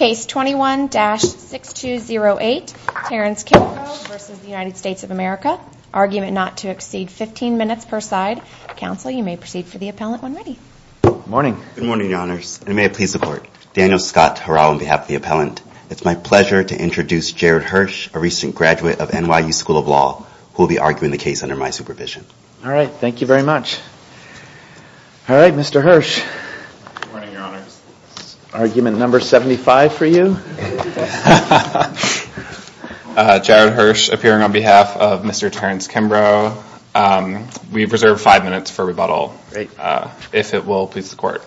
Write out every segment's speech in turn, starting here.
of America, argument not to exceed 15 minutes per side, counsel, you may proceed for the appellant when ready. Good morning. Good morning, your honors. And may it please the court. Daniel Scott Hurao on behalf of the appellant. It's my pleasure to introduce Jared Hirsch, a recent graduate of NYU School of Law, who will be arguing the case under my supervision. All right. Thank you very much. All right. Mr. Hirsch. Good morning, your honors. Argument number 75 for you. Jared Hirsch appearing on behalf of Mr. Terrance Kimbrough. We've reserved five minutes for rebuttal, if it will please the court.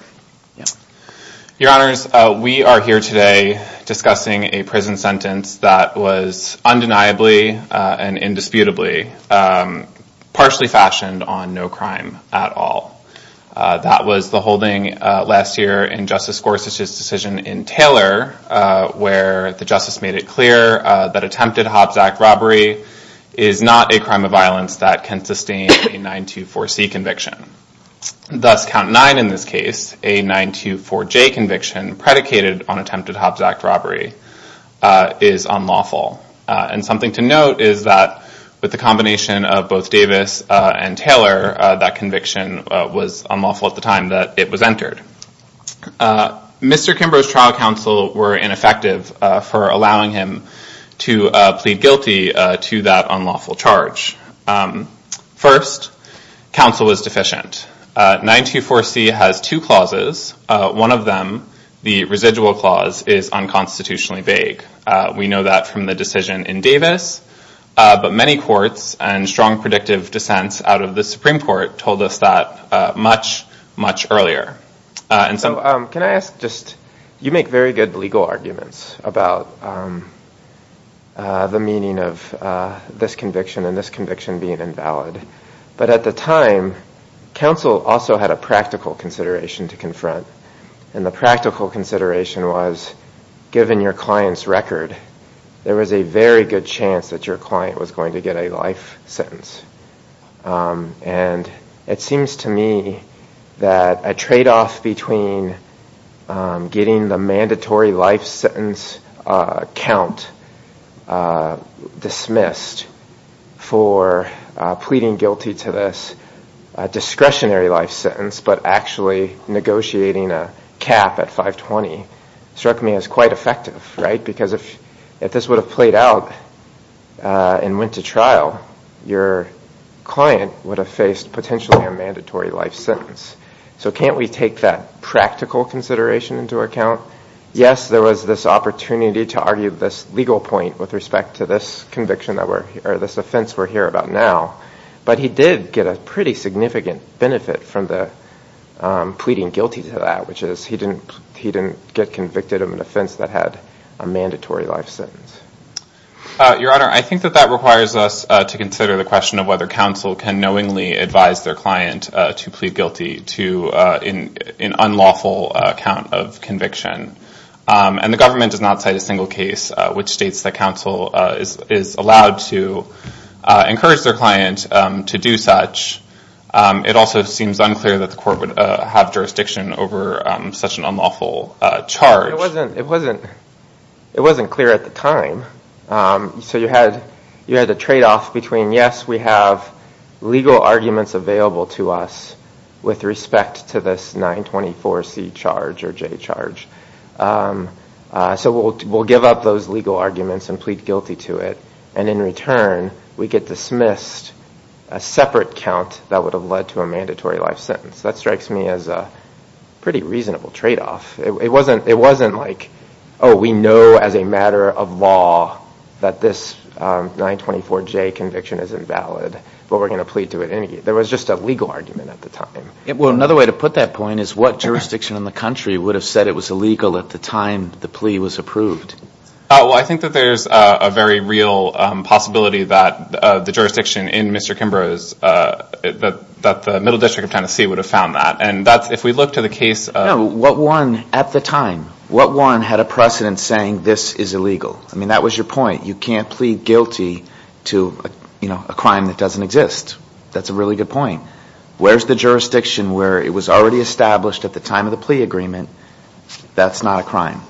Your honors, we are here today discussing a prison sentence that was undeniably and indisputably partially fashioned on no crime at all. That was the holding last year in Justice Gorsuch's decision in Taylor, where the justice made it clear that attempted Hobbs Act robbery is not a crime of violence that can sustain a 924C conviction. Thus, count nine in this case, a 924J conviction predicated on attempted Hobbs Act robbery is unlawful. And something to note is that with the combination of both Davis and Taylor, that conviction was unlawful at the time that it was entered. Mr. Kimbrough's trial counsel were ineffective for allowing him to plead guilty to that unlawful charge. First, counsel was deficient. 924C has two clauses. One of them, the residual clause, is unconstitutionally vague. We know that from the decision in Davis, but many courts and strong predictive dissents out of the Supreme Court told us that much, much earlier. So, can I ask just, you make very good legal arguments about the meaning of this conviction and this conviction being invalid. But at the time, counsel also had a practical consideration to confront, and the practical consideration was given your client's record, there was a very good chance that your client was going to get a life sentence. And it seems to me that a trade-off between getting the mandatory life sentence count dismissed for pleading guilty to this discretionary life sentence, but actually negotiating a cap at 520 struck me as quite effective, right? Because if this would have played out and went to trial, your client would have faced potentially a mandatory life sentence. So can't we take that practical consideration into account? Yes, there was this opportunity to argue this legal point with respect to this conviction that we're, or this offense we're here about now, but he did get a pretty significant benefit from the pleading guilty to that, which is he didn't get convicted of an offense that had a mandatory life sentence. Your Honor, I think that that requires us to consider the question of whether counsel can knowingly advise their client to plead guilty to an unlawful count of conviction. And the government does not cite a single case which states that counsel is allowed to encourage their client to do such. It also seems unclear that the court would have jurisdiction over such an unlawful charge. It wasn't clear at the time. So you had the tradeoff between, yes, we have legal arguments available to us with respect to this 924C charge or J charge. So we'll give up those legal arguments and plead guilty to it. And in return, we get dismissed a separate count that would have led to a mandatory life sentence. That strikes me as a pretty reasonable tradeoff. It wasn't like, oh, we know as a matter of law that this 924J conviction is invalid, but we're going to plead to it anyway. There was just a legal argument at the time. Another way to put that point is what jurisdiction in the country would have said it was illegal at the time the plea was approved? I think that there's a very real possibility that the jurisdiction in Mr. Kimbrough's, that the Middle District of Tennessee would have found that. If we look to the case of- No. What one at the time, what one had a precedent saying this is illegal? That was your point. You can't plead guilty to a crime that doesn't exist. That's a really good point. Where's the jurisdiction where it was already established at the time of the plea agreement that's not a crime?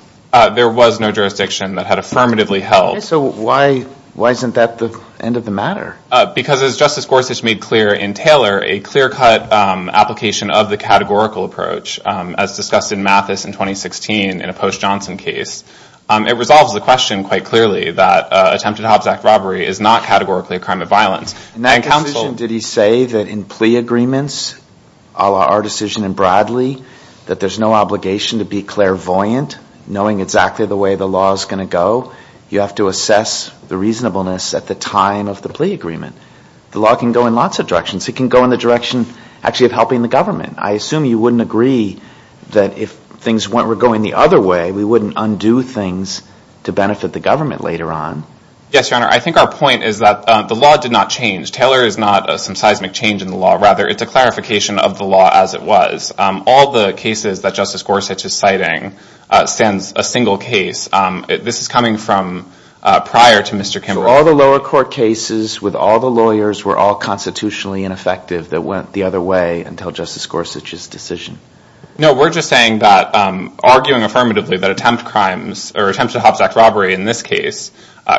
There was no jurisdiction that had affirmatively held. So why isn't that the end of the matter? Because as Justice Gorsuch made clear in Taylor, a clear-cut application of the categorical approach as discussed in Mathis in 2016 in a Post Johnson case, it resolves the question quite clearly that attempted Hobbs Act robbery is not categorically a crime of violence. In that decision, did he say that in plea agreements, a la our decision in Bradley, that there's no obligation to be clairvoyant, knowing exactly the way the law is going to go? You have to assess the reasonableness at the time of the plea agreement. The law can go in lots of directions. It can go in the direction actually of helping the government. I assume you wouldn't agree that if things were going the other way, we wouldn't undo things to benefit the government later on. Yes, Your Honor. I think our point is that the law did not change. Taylor is not some seismic change in the law. Rather, it's a clarification of the law as it was. All the cases that Justice Gorsuch is citing stands a single case. This is coming from prior to Mr. Kimbrough. All the lower court cases with all the lawyers were all constitutionally ineffective that went the other way until Justice Gorsuch's decision? No, we're just saying that arguing affirmatively that attempt crimes or attempts to Hobbs Act robbery in this case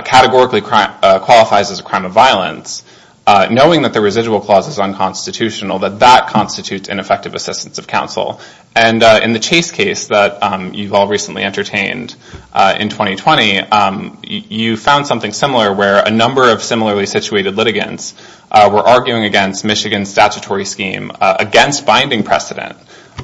categorically qualifies as a crime of violence, knowing that the residual clause is unconstitutional, that that constitutes ineffective assistance of counsel. In the Chase case that you've all recently entertained in 2020, you found something similar where a number of similarly situated litigants were arguing against Michigan's statutory scheme against binding precedent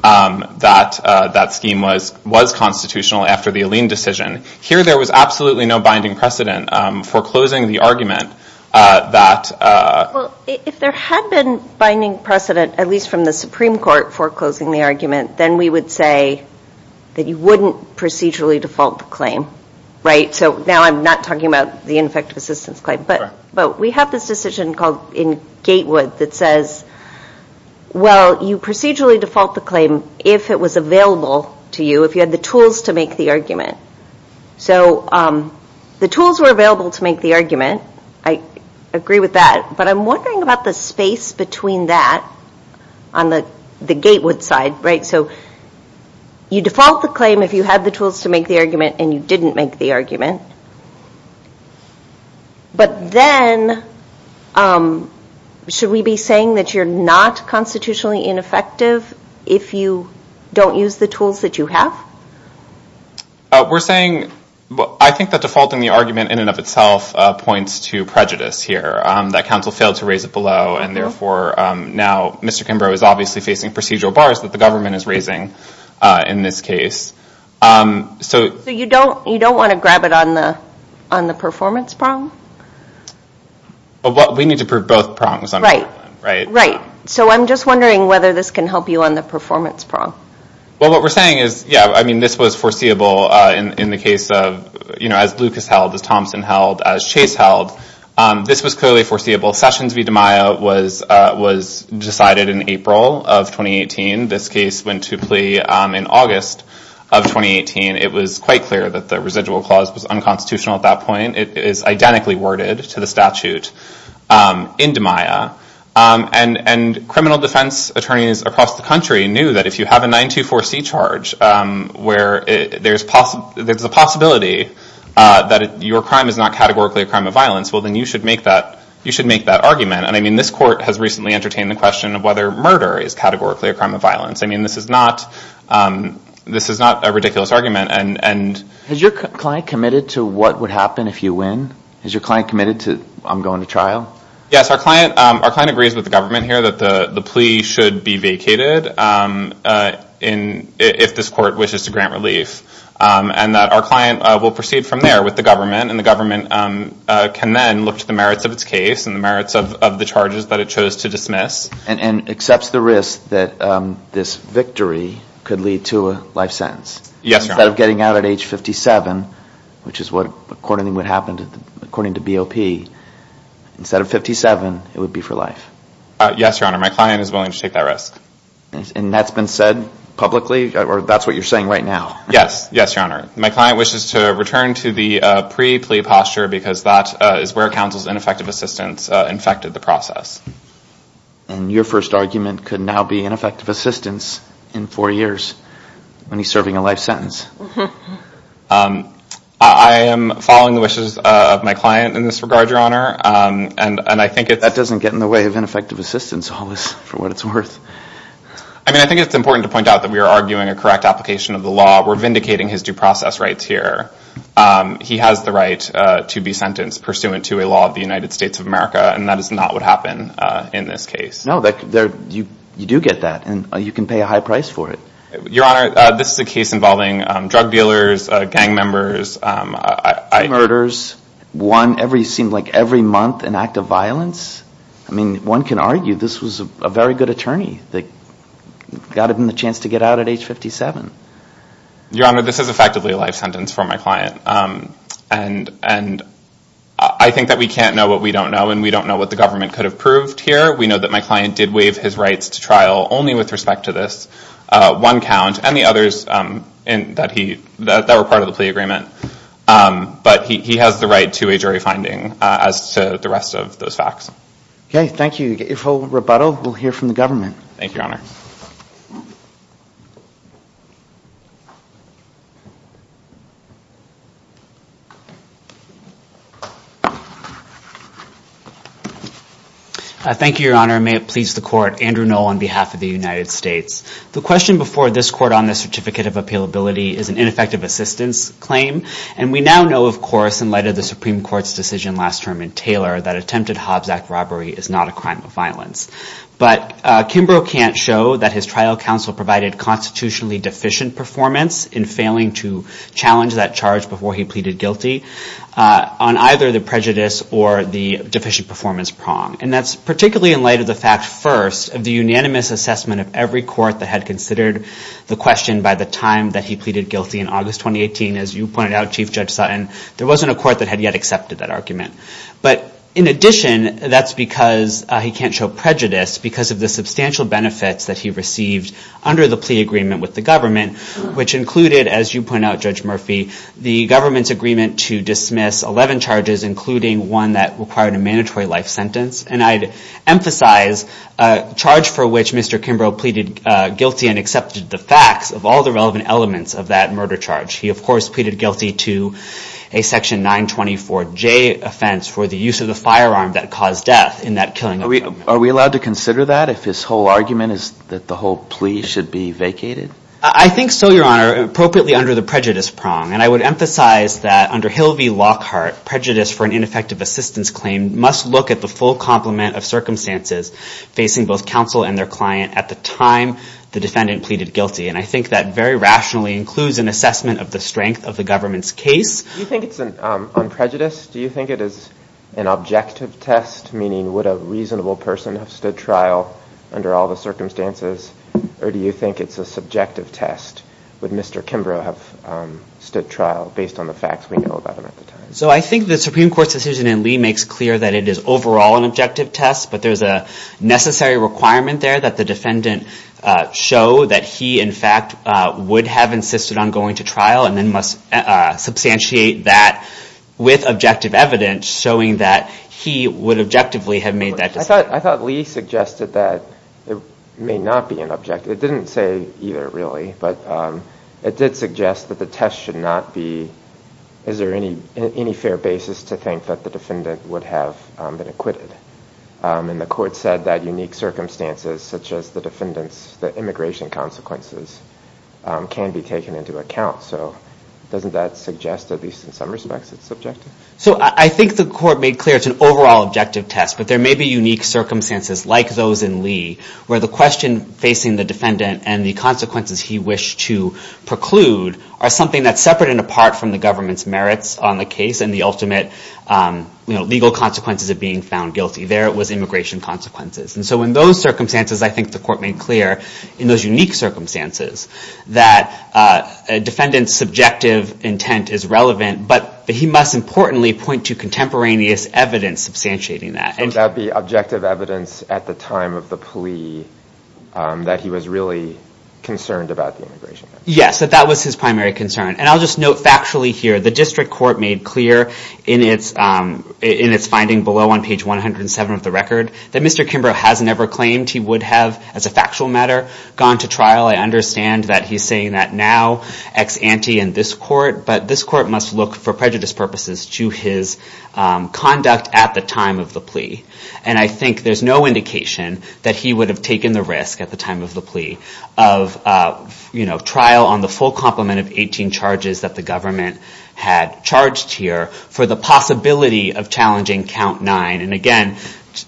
that that scheme was constitutional after the Alene decision. Here, there was absolutely no binding precedent foreclosing the argument that... If there had been binding precedent, at least from the Supreme Court, foreclosing the argument, then we would say that you wouldn't procedurally default the claim, right? Now I'm not talking about the ineffective assistance claim, but we have this decision called in Gatewood that says, well, you procedurally default the claim if it was available to you, if you had the tools to make the argument. The tools were available to make the argument. I agree with that, but I'm wondering about the space between that on the Gatewood side, right? So you default the claim if you had the tools to make the argument and you didn't make the argument, but then should we be saying that you're not constitutionally ineffective if you don't use the tools that you have? We're saying... I think that defaulting the argument in and of itself points to prejudice here, that counsel failed to raise it below, and therefore now Mr. Kimbrough is obviously facing procedural bars that the government is raising in this case. So you don't want to grab it on the performance prong? We need to prove both prongs on the problem, right? Right. So I'm just wondering whether this can help you on the performance prong. Well, what we're saying is, yeah, I mean, this was foreseeable in the case of, you know, as Lucas held, as Thompson held, as Chase held. This was clearly foreseeable. Sessions v. DiMaia was decided in April of 2018. This case went to plea in August of 2018. It was quite clear that the residual clause was unconstitutional at that point. It is identically worded to the statute in DiMaia. And criminal defense attorneys across the country knew that if you have a 924C charge, where there's a possibility that your crime is not categorically a crime of violence, well, then you should make that argument. And I mean, this court has recently entertained the question of whether murder is categorically a crime of violence. I mean, this is not a ridiculous argument. Has your client committed to what would happen if you win? Has your client committed to, I'm going to trial? Yes. Our client agrees with the government here that the plea should be vacated if this court wishes to grant relief. And that our client will proceed from there with the government, and the government can then look to the merits of its case and the merits of the charges that it chose to dismiss. And accepts the risk that this victory could lead to a life sentence. Yes, Your Honor. Instead of getting out at age 57, which is what, according to what happened, according to BOP, instead of 57, it would be for life. Yes, Your Honor. My client is willing to take that risk. And that's been said publicly, or that's what you're saying right now? Yes. Yes, Your Honor. My client wishes to return to the pre-plea posture because that is where counsel's ineffective assistance infected the process. And your first argument could now be ineffective assistance in four years when he's serving a life sentence. I am following the wishes of my client in this regard, Your Honor, and I think it's That doesn't get in the way of ineffective assistance, Hollis, for what it's worth. I mean, I think it's important to point out that we are arguing a correct application of the law. We're vindicating his due process rights here. He has the right to be sentenced pursuant to a law of the United States of America, and that is not what happened in this case. No, you do get that, and you can pay a high price for it. Your Honor, this is a case involving drug dealers, gang members. Two murders, one every, it seemed like every month, an act of violence. I mean, one can argue this was a very good attorney that got him the chance to get out at age 57. Your Honor, this is effectively a life sentence for my client, and I think that we can't know what we don't know, and we don't know what the government could have proved here. We know that my client did waive his rights to trial only with respect to this. One count, and the others that were part of the plea agreement, but he has the right to a jury finding as to the rest of those facts. Okay. Thank you. If we'll rebuttal, we'll hear from the government. Thank you, Your Honor. Thank you, Your Honor. Your Honor, may it please the court, Andrew Noll on behalf of the United States. The question before this court on the certificate of appealability is an ineffective assistance claim, and we now know, of course, in light of the Supreme Court's decision last term in Taylor that attempted Hobbs Act robbery is not a crime of violence. But Kimbrough can't show that his trial counsel provided constitutionally deficient performance in failing to challenge that charge before he pleaded guilty on either the prejudice or the deficient performance prong. And that's particularly in light of the fact, first, of the unanimous assessment of every court that had considered the question by the time that he pleaded guilty in August 2018. As you pointed out, Chief Judge Sutton, there wasn't a court that had yet accepted that argument. But in addition, that's because he can't show prejudice because of the substantial benefits that he received under the plea agreement with the government, which included, as you point out, Judge Murphy, the government's agreement to dismiss 11 charges, including one that required a mandatory life sentence. And I'd emphasize a charge for which Mr. Kimbrough pleaded guilty and accepted the facts of all the relevant elements of that murder charge. He, of course, pleaded guilty to a section 924J offense for the use of the firearm that caused death in that killing. Are we allowed to consider that if his whole argument is that the whole plea should be vacated? I think so, Your Honor, appropriately under the prejudice prong. And I would emphasize that under Hill v. Lockhart, prejudice for an ineffective assistance claim must look at the full complement of circumstances facing both counsel and their client at the time the defendant pleaded guilty. And I think that very rationally includes an assessment of the strength of the government's case. Do you think it's on prejudice? Do you think it is an objective test, meaning would a reasonable person have stood trial under all the circumstances? Or do you think it's a subjective test? Would Mr. Kimbrough have stood trial based on the facts we know about him at the time? So I think the Supreme Court's decision in Lee makes clear that it is overall an objective test. But there's a necessary requirement there that the defendant show that he in fact would have insisted on going to trial and then must substantiate that with objective evidence showing that he would objectively have made that decision. I thought Lee suggested that it may not be an objective. It didn't say either really, but it did suggest that the test should not be, is there any fair basis to think that the defendant would have been acquitted? And the court said that unique circumstances such as the defendant's immigration consequences can be taken into account. So doesn't that suggest at least in some respects it's subjective? So I think the court made clear it's an overall objective test, but there may be unique circumstances like those in Lee where the question facing the defendant and the consequences he wished to preclude are something that's separate and apart from the government's merits on the case and the ultimate legal consequences of being found guilty. There it was immigration consequences. And so in those circumstances, I think the court made clear in those unique circumstances that a defendant's subjective intent is relevant, but he must importantly point to contemporaneous evidence substantiating that. Would that be objective evidence at the time of the plea that he was really concerned about the immigration? Yes, that that was his primary concern. And I'll just note factually here, the district court made clear in its finding below on page 107 of the record that Mr. Kimbrough has never claimed he would have as a factual matter gone to trial. I understand that he's saying that now ex ante in this court, but this court must look for prejudice purposes to his conduct at the time of the plea. And I think there's no indication that he would have taken the risk at the time of the plea of trial on the full complement of 18 charges that the government had charged here for the possibility of challenging count nine. And again,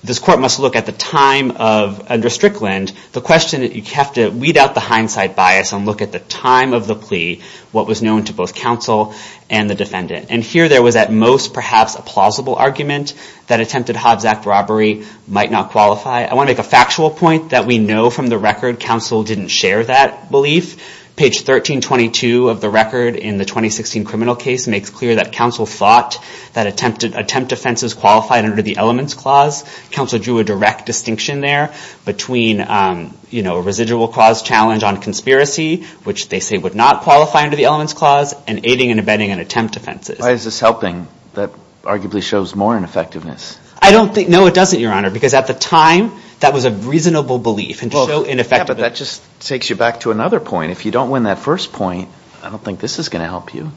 this court must look at the time of under Strickland, the question that you have to weed out the hindsight bias and look at the time of the plea, what was known to both counsel and the defendant. And here there was at most perhaps a plausible argument that attempted Hobbs Act robbery might not qualify. I want to make a factual point that we know from the record, counsel didn't share that belief. Page 1322 of the record in the 2016 criminal case makes clear that counsel thought that attempt offenses qualified under the elements clause. Counsel drew a direct distinction there between a residual cause challenge on conspiracy, which they say would not qualify under the elements clause, and aiding and abetting an attempt offenses. Why is this helping? That arguably shows more ineffectiveness. I don't think, no it doesn't, Your Honor, because at the time that was a reasonable belief and to show ineffectiveness. Well, yeah, but that just takes you back to another point. If you don't win that first point, I don't think this is going to help you.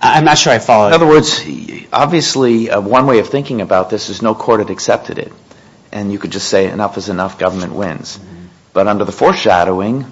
I'm not sure I follow. In other words, obviously one way of thinking about this is no court had accepted it. And you could just say enough is enough, government wins. But under the foreshadowing,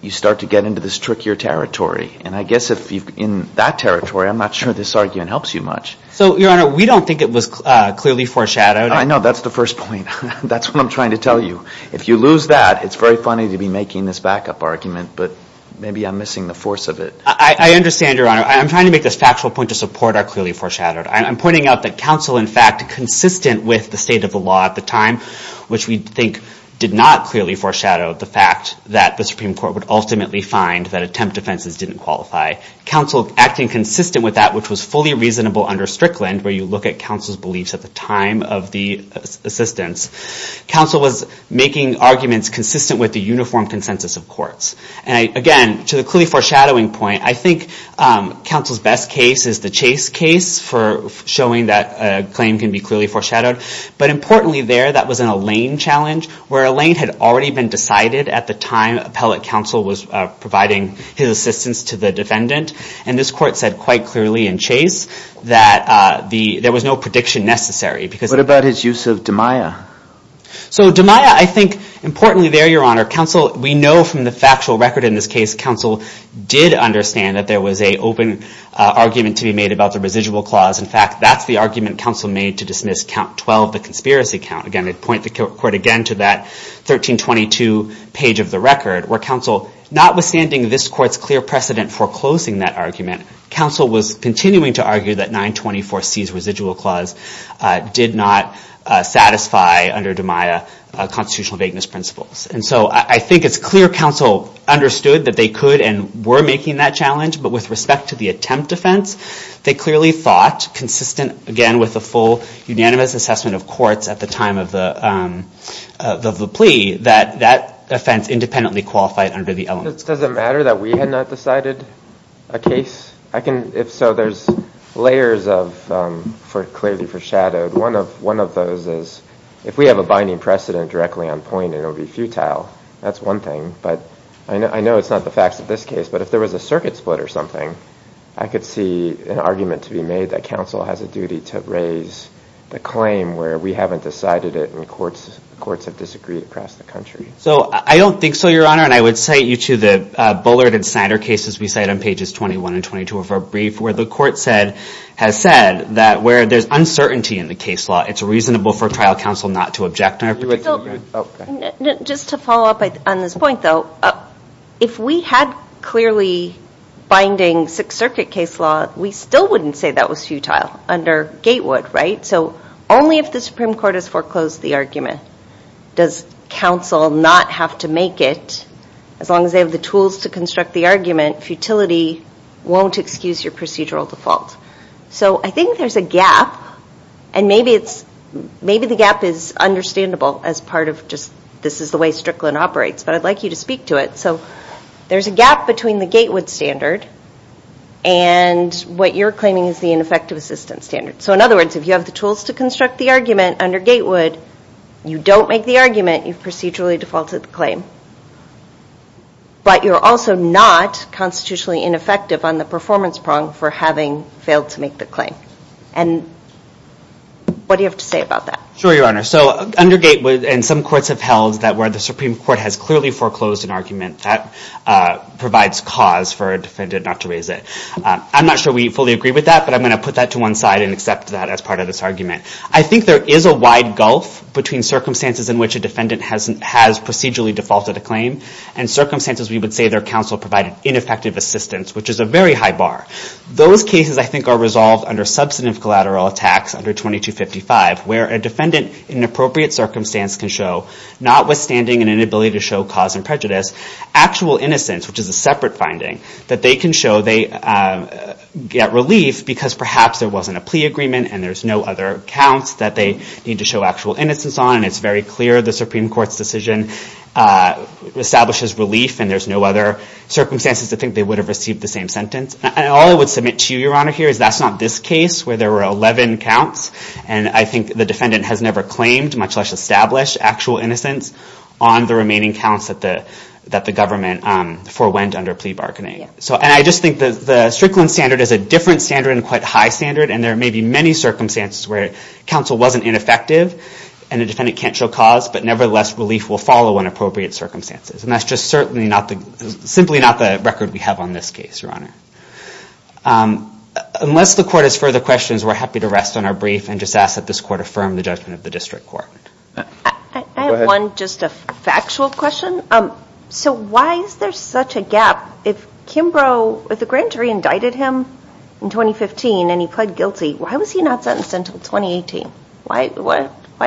you start to get into this trickier territory. And I guess in that territory, I'm not sure this argument helps you much. So Your Honor, we don't think it was clearly foreshadowed. I know, that's the first point. That's what I'm trying to tell you. If you lose that, it's very funny to be making this backup argument, but maybe I'm missing the force of it. I understand, Your Honor. I'm trying to make this factual point to support our clearly foreshadowed. I'm pointing out that counsel, in fact, consistent with the state of the law at the time, which we think did not clearly foreshadow the fact that the Supreme Court would ultimately find that attempt offenses didn't qualify, counsel acting consistent with that, which was fully reasonable under Strickland, where you look at counsel's beliefs at the time of the assistance, counsel was making arguments consistent with the uniform consensus of courts. And again, to the clearly foreshadowing point, I think counsel's best case is the Chase case for showing that a claim can be clearly foreshadowed. But importantly there, that was an Allain challenge, where Allain had already been decided at the time appellate counsel was providing his assistance to the defendant. And this court said quite clearly in Chase that there was no prediction necessary. What about his use of DiMaia? So DiMaia, I think, importantly there, Your Honor, counsel, we know from the factual record in this case, counsel did understand that there was an open argument to be made about the residual clause. In fact, that's the argument counsel made to dismiss count 12, the conspiracy count. Again, I'd point the court again to that 1322 page of the record, where counsel, notwithstanding this court's clear precedent for closing that argument, counsel was continuing to argue that 924C's residual clause did not satisfy under DiMaia constitutional vagueness principles. And so I think it's clear counsel understood that they could and were making that challenge. But with respect to the attempt offense, they clearly thought, consistent again with the full unanimous assessment of courts at the time of the plea, that that offense independently qualified under the elements. Does it matter that we had not decided a case? If so, there's layers clearly foreshadowed. One of those is if we have a binding precedent directly on point, it'll be futile. That's one thing. I know it's not the facts of this case, but if there was a circuit split or something, I could see an argument to be made that counsel has a duty to raise the claim where we haven't decided it and courts have disagreed across the country. So I don't think so, Your Honor, and I would cite you to the Bullard and Snyder cases we cite on pages 21 and 22 of our brief, where the court has said that where there's uncertainty in the case law, it's reasonable for trial counsel not to object. Just to follow up on this point, though, if we had clearly binding Sixth Circuit case law, we still wouldn't say that was futile under Gatewood, right? So only if the Supreme Court has foreclosed the argument does counsel not have to make it. As long as they have the tools to construct the argument, futility won't excuse your procedural default. So I think there's a gap, and maybe the gap is understandable as part of just this is the way Strickland operates, but I'd like you to speak to it. So there's a gap between the Gatewood standard and what you're claiming is the ineffective assistance standard. So in other words, if you have the tools to construct the argument under Gatewood, you don't make the argument, you've procedurally defaulted the claim, but you're also not constitutionally ineffective on the performance prong for having failed to make the claim. And what do you have to say about that? Sure, Your Honor. So under Gatewood, and some courts have held that where the Supreme Court has clearly foreclosed an argument, that provides cause for a defendant not to raise it. I'm not sure we fully agree with that, but I'm going to put that to one side and accept that as part of this argument. I think there is a wide gulf between circumstances in which a defendant has procedurally defaulted the claim, and circumstances we would say their counsel provided ineffective assistance, which is a very high bar. Those cases, I think, are resolved under substantive collateral attacks under 2255, where a defendant in appropriate circumstance can show, notwithstanding an inability to show cause and prejudice, actual innocence, which is a separate finding, that they can show they get relief because perhaps there wasn't a plea agreement and there's no other accounts that they need to establish as relief and there's no other circumstances to think they would have received the same sentence. All I would submit to you, Your Honor, here is that's not this case, where there were 11 counts, and I think the defendant has never claimed, much less established, actual innocence on the remaining counts that the government forewent under plea bargaining. And I just think the Strickland standard is a different standard and quite high standard, and there may be many circumstances where counsel wasn't ineffective and the defendant can't show cause, but nevertheless, relief will follow in appropriate circumstances. And that's just certainly not the, simply not the record we have on this case, Your Honor. Unless the court has further questions, we're happy to rest on our brief and just ask that this court affirm the judgment of the district court. Go ahead. I have one, just a factual question. So why is there such a gap? If Kimbrough, if the grand jury indicted him in 2015 and he pled guilty, why was he not sentenced until 2018? Why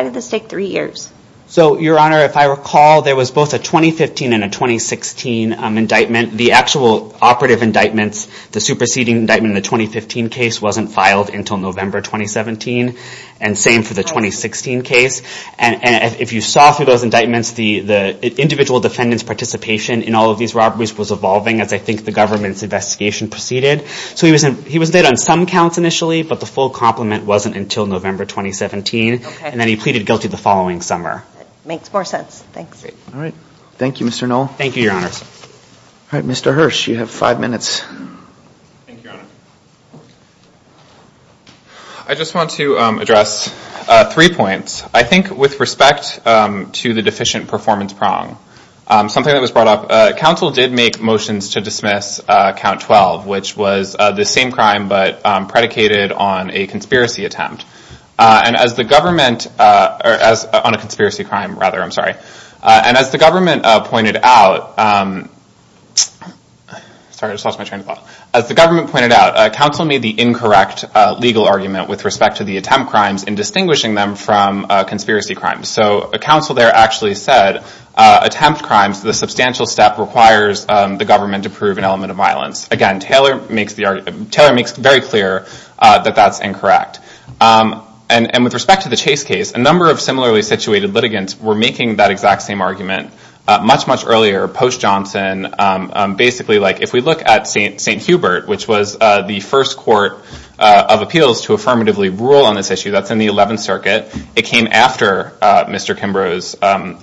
did this take three years? So Your Honor, if I recall, there was both a 2015 and a 2016 indictment. The actual operative indictments, the superseding indictment in the 2015 case wasn't filed until November 2017, and same for the 2016 case. If you saw through those indictments, the individual defendant's participation in all of these robberies was evolving as I think the government's investigation proceeded. So he was dead on some counts initially, but the full compliment wasn't until November 2017, and then he pleaded guilty the following summer. Makes more sense. Thanks. Great. All right. Thank you, Mr. Knoll. Thank you, Your Honors. All right, Mr. Hirsch, you have five minutes. Thank you, Your Honor. I just want to address three points. I think with respect to the deficient performance prong, something that was brought up, counsel did make motions to dismiss count 12, which was the same crime but predicated on a conspiracy attempt on a conspiracy crime, rather, I'm sorry. And as the government pointed out, counsel made the incorrect legal argument with respect to the attempt crimes in distinguishing them from conspiracy crimes. So counsel there actually said attempt crimes, the substantial step requires the government to prove an element of violence. Again, Taylor makes very clear that that's incorrect. And with respect to the Chase case, a number of similarly situated litigants were making that exact same argument much, much earlier, post Johnson. Basically if we look at St. Hubert, which was the first court of appeals to affirmatively rule on this issue, that's in the 11th Circuit. It came after Mr. Kimbrough's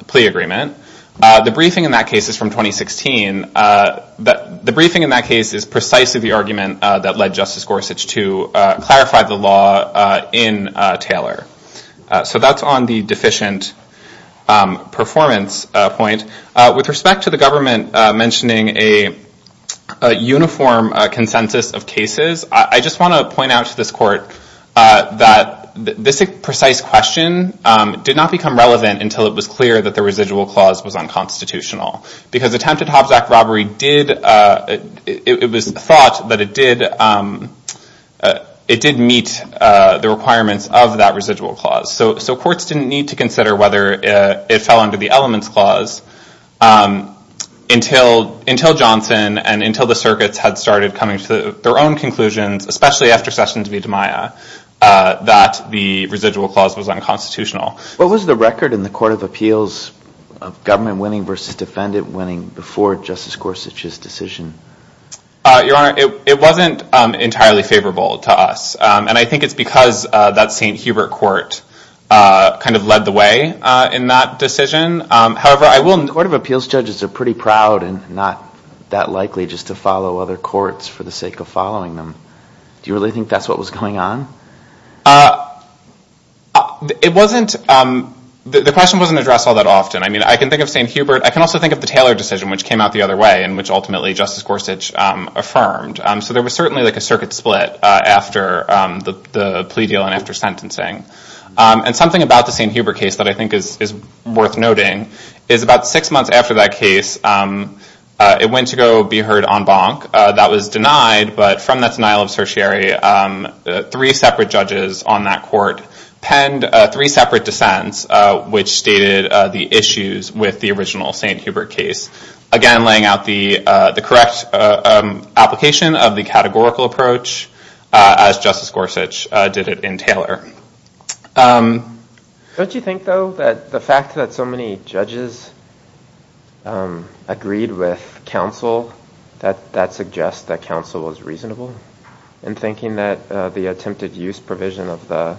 plea agreement. The briefing in that case is from 2016. The briefing in that case is precisely the argument that led Justice Gorsuch to clarify the law in Taylor. So that's on the deficient performance point. With respect to the government mentioning a uniform consensus of cases, I just want to point out to this court that this precise question did not become relevant until it was clear that the residual clause was unconstitutional. Because attempted Hobbs Act robbery, it was thought that it did meet the requirements of that residual clause. So courts didn't need to consider whether it fell under the elements clause until Johnson and until the circuits had started coming to their own conclusions, especially after Sessions v. DiMaia, that the residual clause was unconstitutional. What was the record in the court of appeals of government winning versus defendant winning before Justice Gorsuch's decision? Your Honor, it wasn't entirely favorable to us. And I think it's because that St. Hubert court kind of led the way in that decision. However, I will note that court of appeals judges are pretty proud and not that likely just to follow other courts for the sake of following them. Do you really think that's what was going on? The question wasn't addressed all that often. I mean, I can think of St. Hubert. I can also think of the Taylor decision, which came out the other way and which ultimately Justice Gorsuch affirmed. So there was certainly like a circuit split after the plea deal and after sentencing. And something about the St. Hubert case that I think is worth noting is about six months after that case, it went to go be heard on bonk. That was denied, but from that denial of certiorari, three separate judges on that court penned three separate dissents, which stated the issues with the original St. Hubert case. Again, laying out the correct application of the categorical approach as Justice Gorsuch did it in Taylor. Don't you think, though, that the fact that so many judges agreed with counsel, that that suggests that counsel was reasonable in thinking that the attempted use provision of the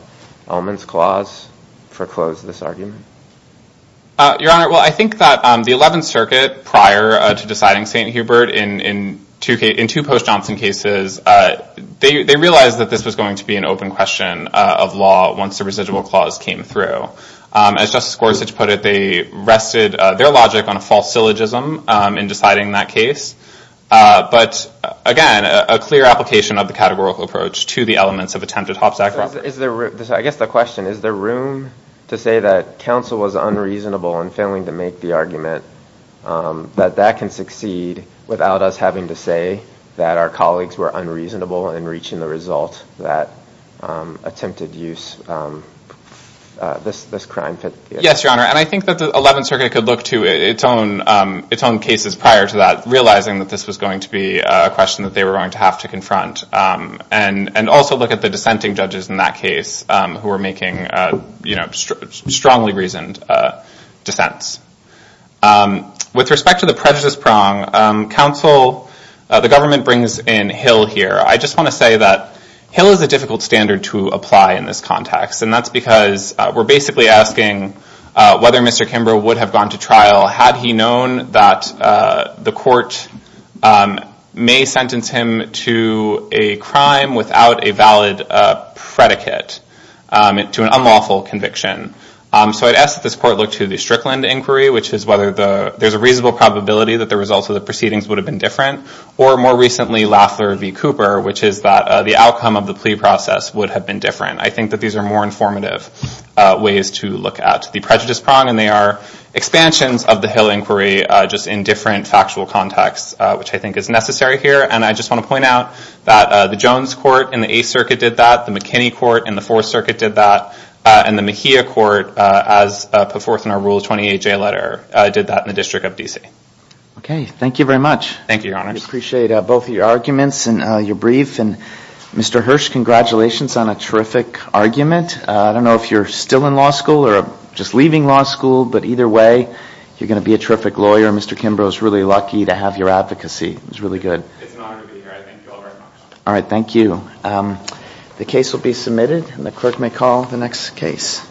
elements clause foreclosed this argument? Your Honor, well, I think that the 11th Circuit, prior to deciding St. Hubert in two post-Johnson cases, they realized that this was going to be an open question of law once the residual clause came through. As Justice Gorsuch put it, they rested their logic on a false syllogism in deciding that case. But again, a clear application of the categorical approach to the elements of attempted hopsack robbery. I guess the question, is there room to say that counsel was unreasonable in failing to make the argument, that that can succeed without us having to say that our colleagues were unreasonable in reaching the result that attempted use this crime? Yes, Your Honor, and I think that the 11th Circuit could look to its own cases prior to that, realizing that this was going to be a question that they were going to have to confront, and also look at the dissenting judges in that case who were making strongly reasoned dissents. With respect to the prejudice prong, counsel, the government brings in Hill here. I just want to say that Hill is a difficult standard to apply in this context, and that's because we're basically asking whether Mr. Kimbrough would have gone to trial had he known that the court may sentence him to a crime without a valid predicate to an unlawful conviction. So I'd ask that this court look to the Strickland inquiry, which is whether there's a reasonable probability that the results of the proceedings would have been different, or more recently, Lafler v. Cooper, which is that the outcome of the plea process would have been different. I think that these are more informative ways to look at the prejudice prong, and they are expansions of the Hill inquiry, just in different factual contexts, which I think is necessary here, and I just want to point out that the Jones court in the Eighth Circuit did that, the McKinney court in the Fourth Circuit did that, and the Mejia court, as put forth in our Rule 28J letter, did that in the District of D.C. Okay, thank you very much. Thank you, Your Honors. We appreciate both of your arguments and your brief, and Mr. Hirsch, congratulations on a terrific argument. I don't know if you're still in law school or just leaving law school, but either way, you're going to be a terrific lawyer. Mr. Kimbrough is really lucky to have your advocacy. It was really good. It's an honor to be here. I thank you all very much. All right, thank you. The case will be submitted, and the clerk may call the next case.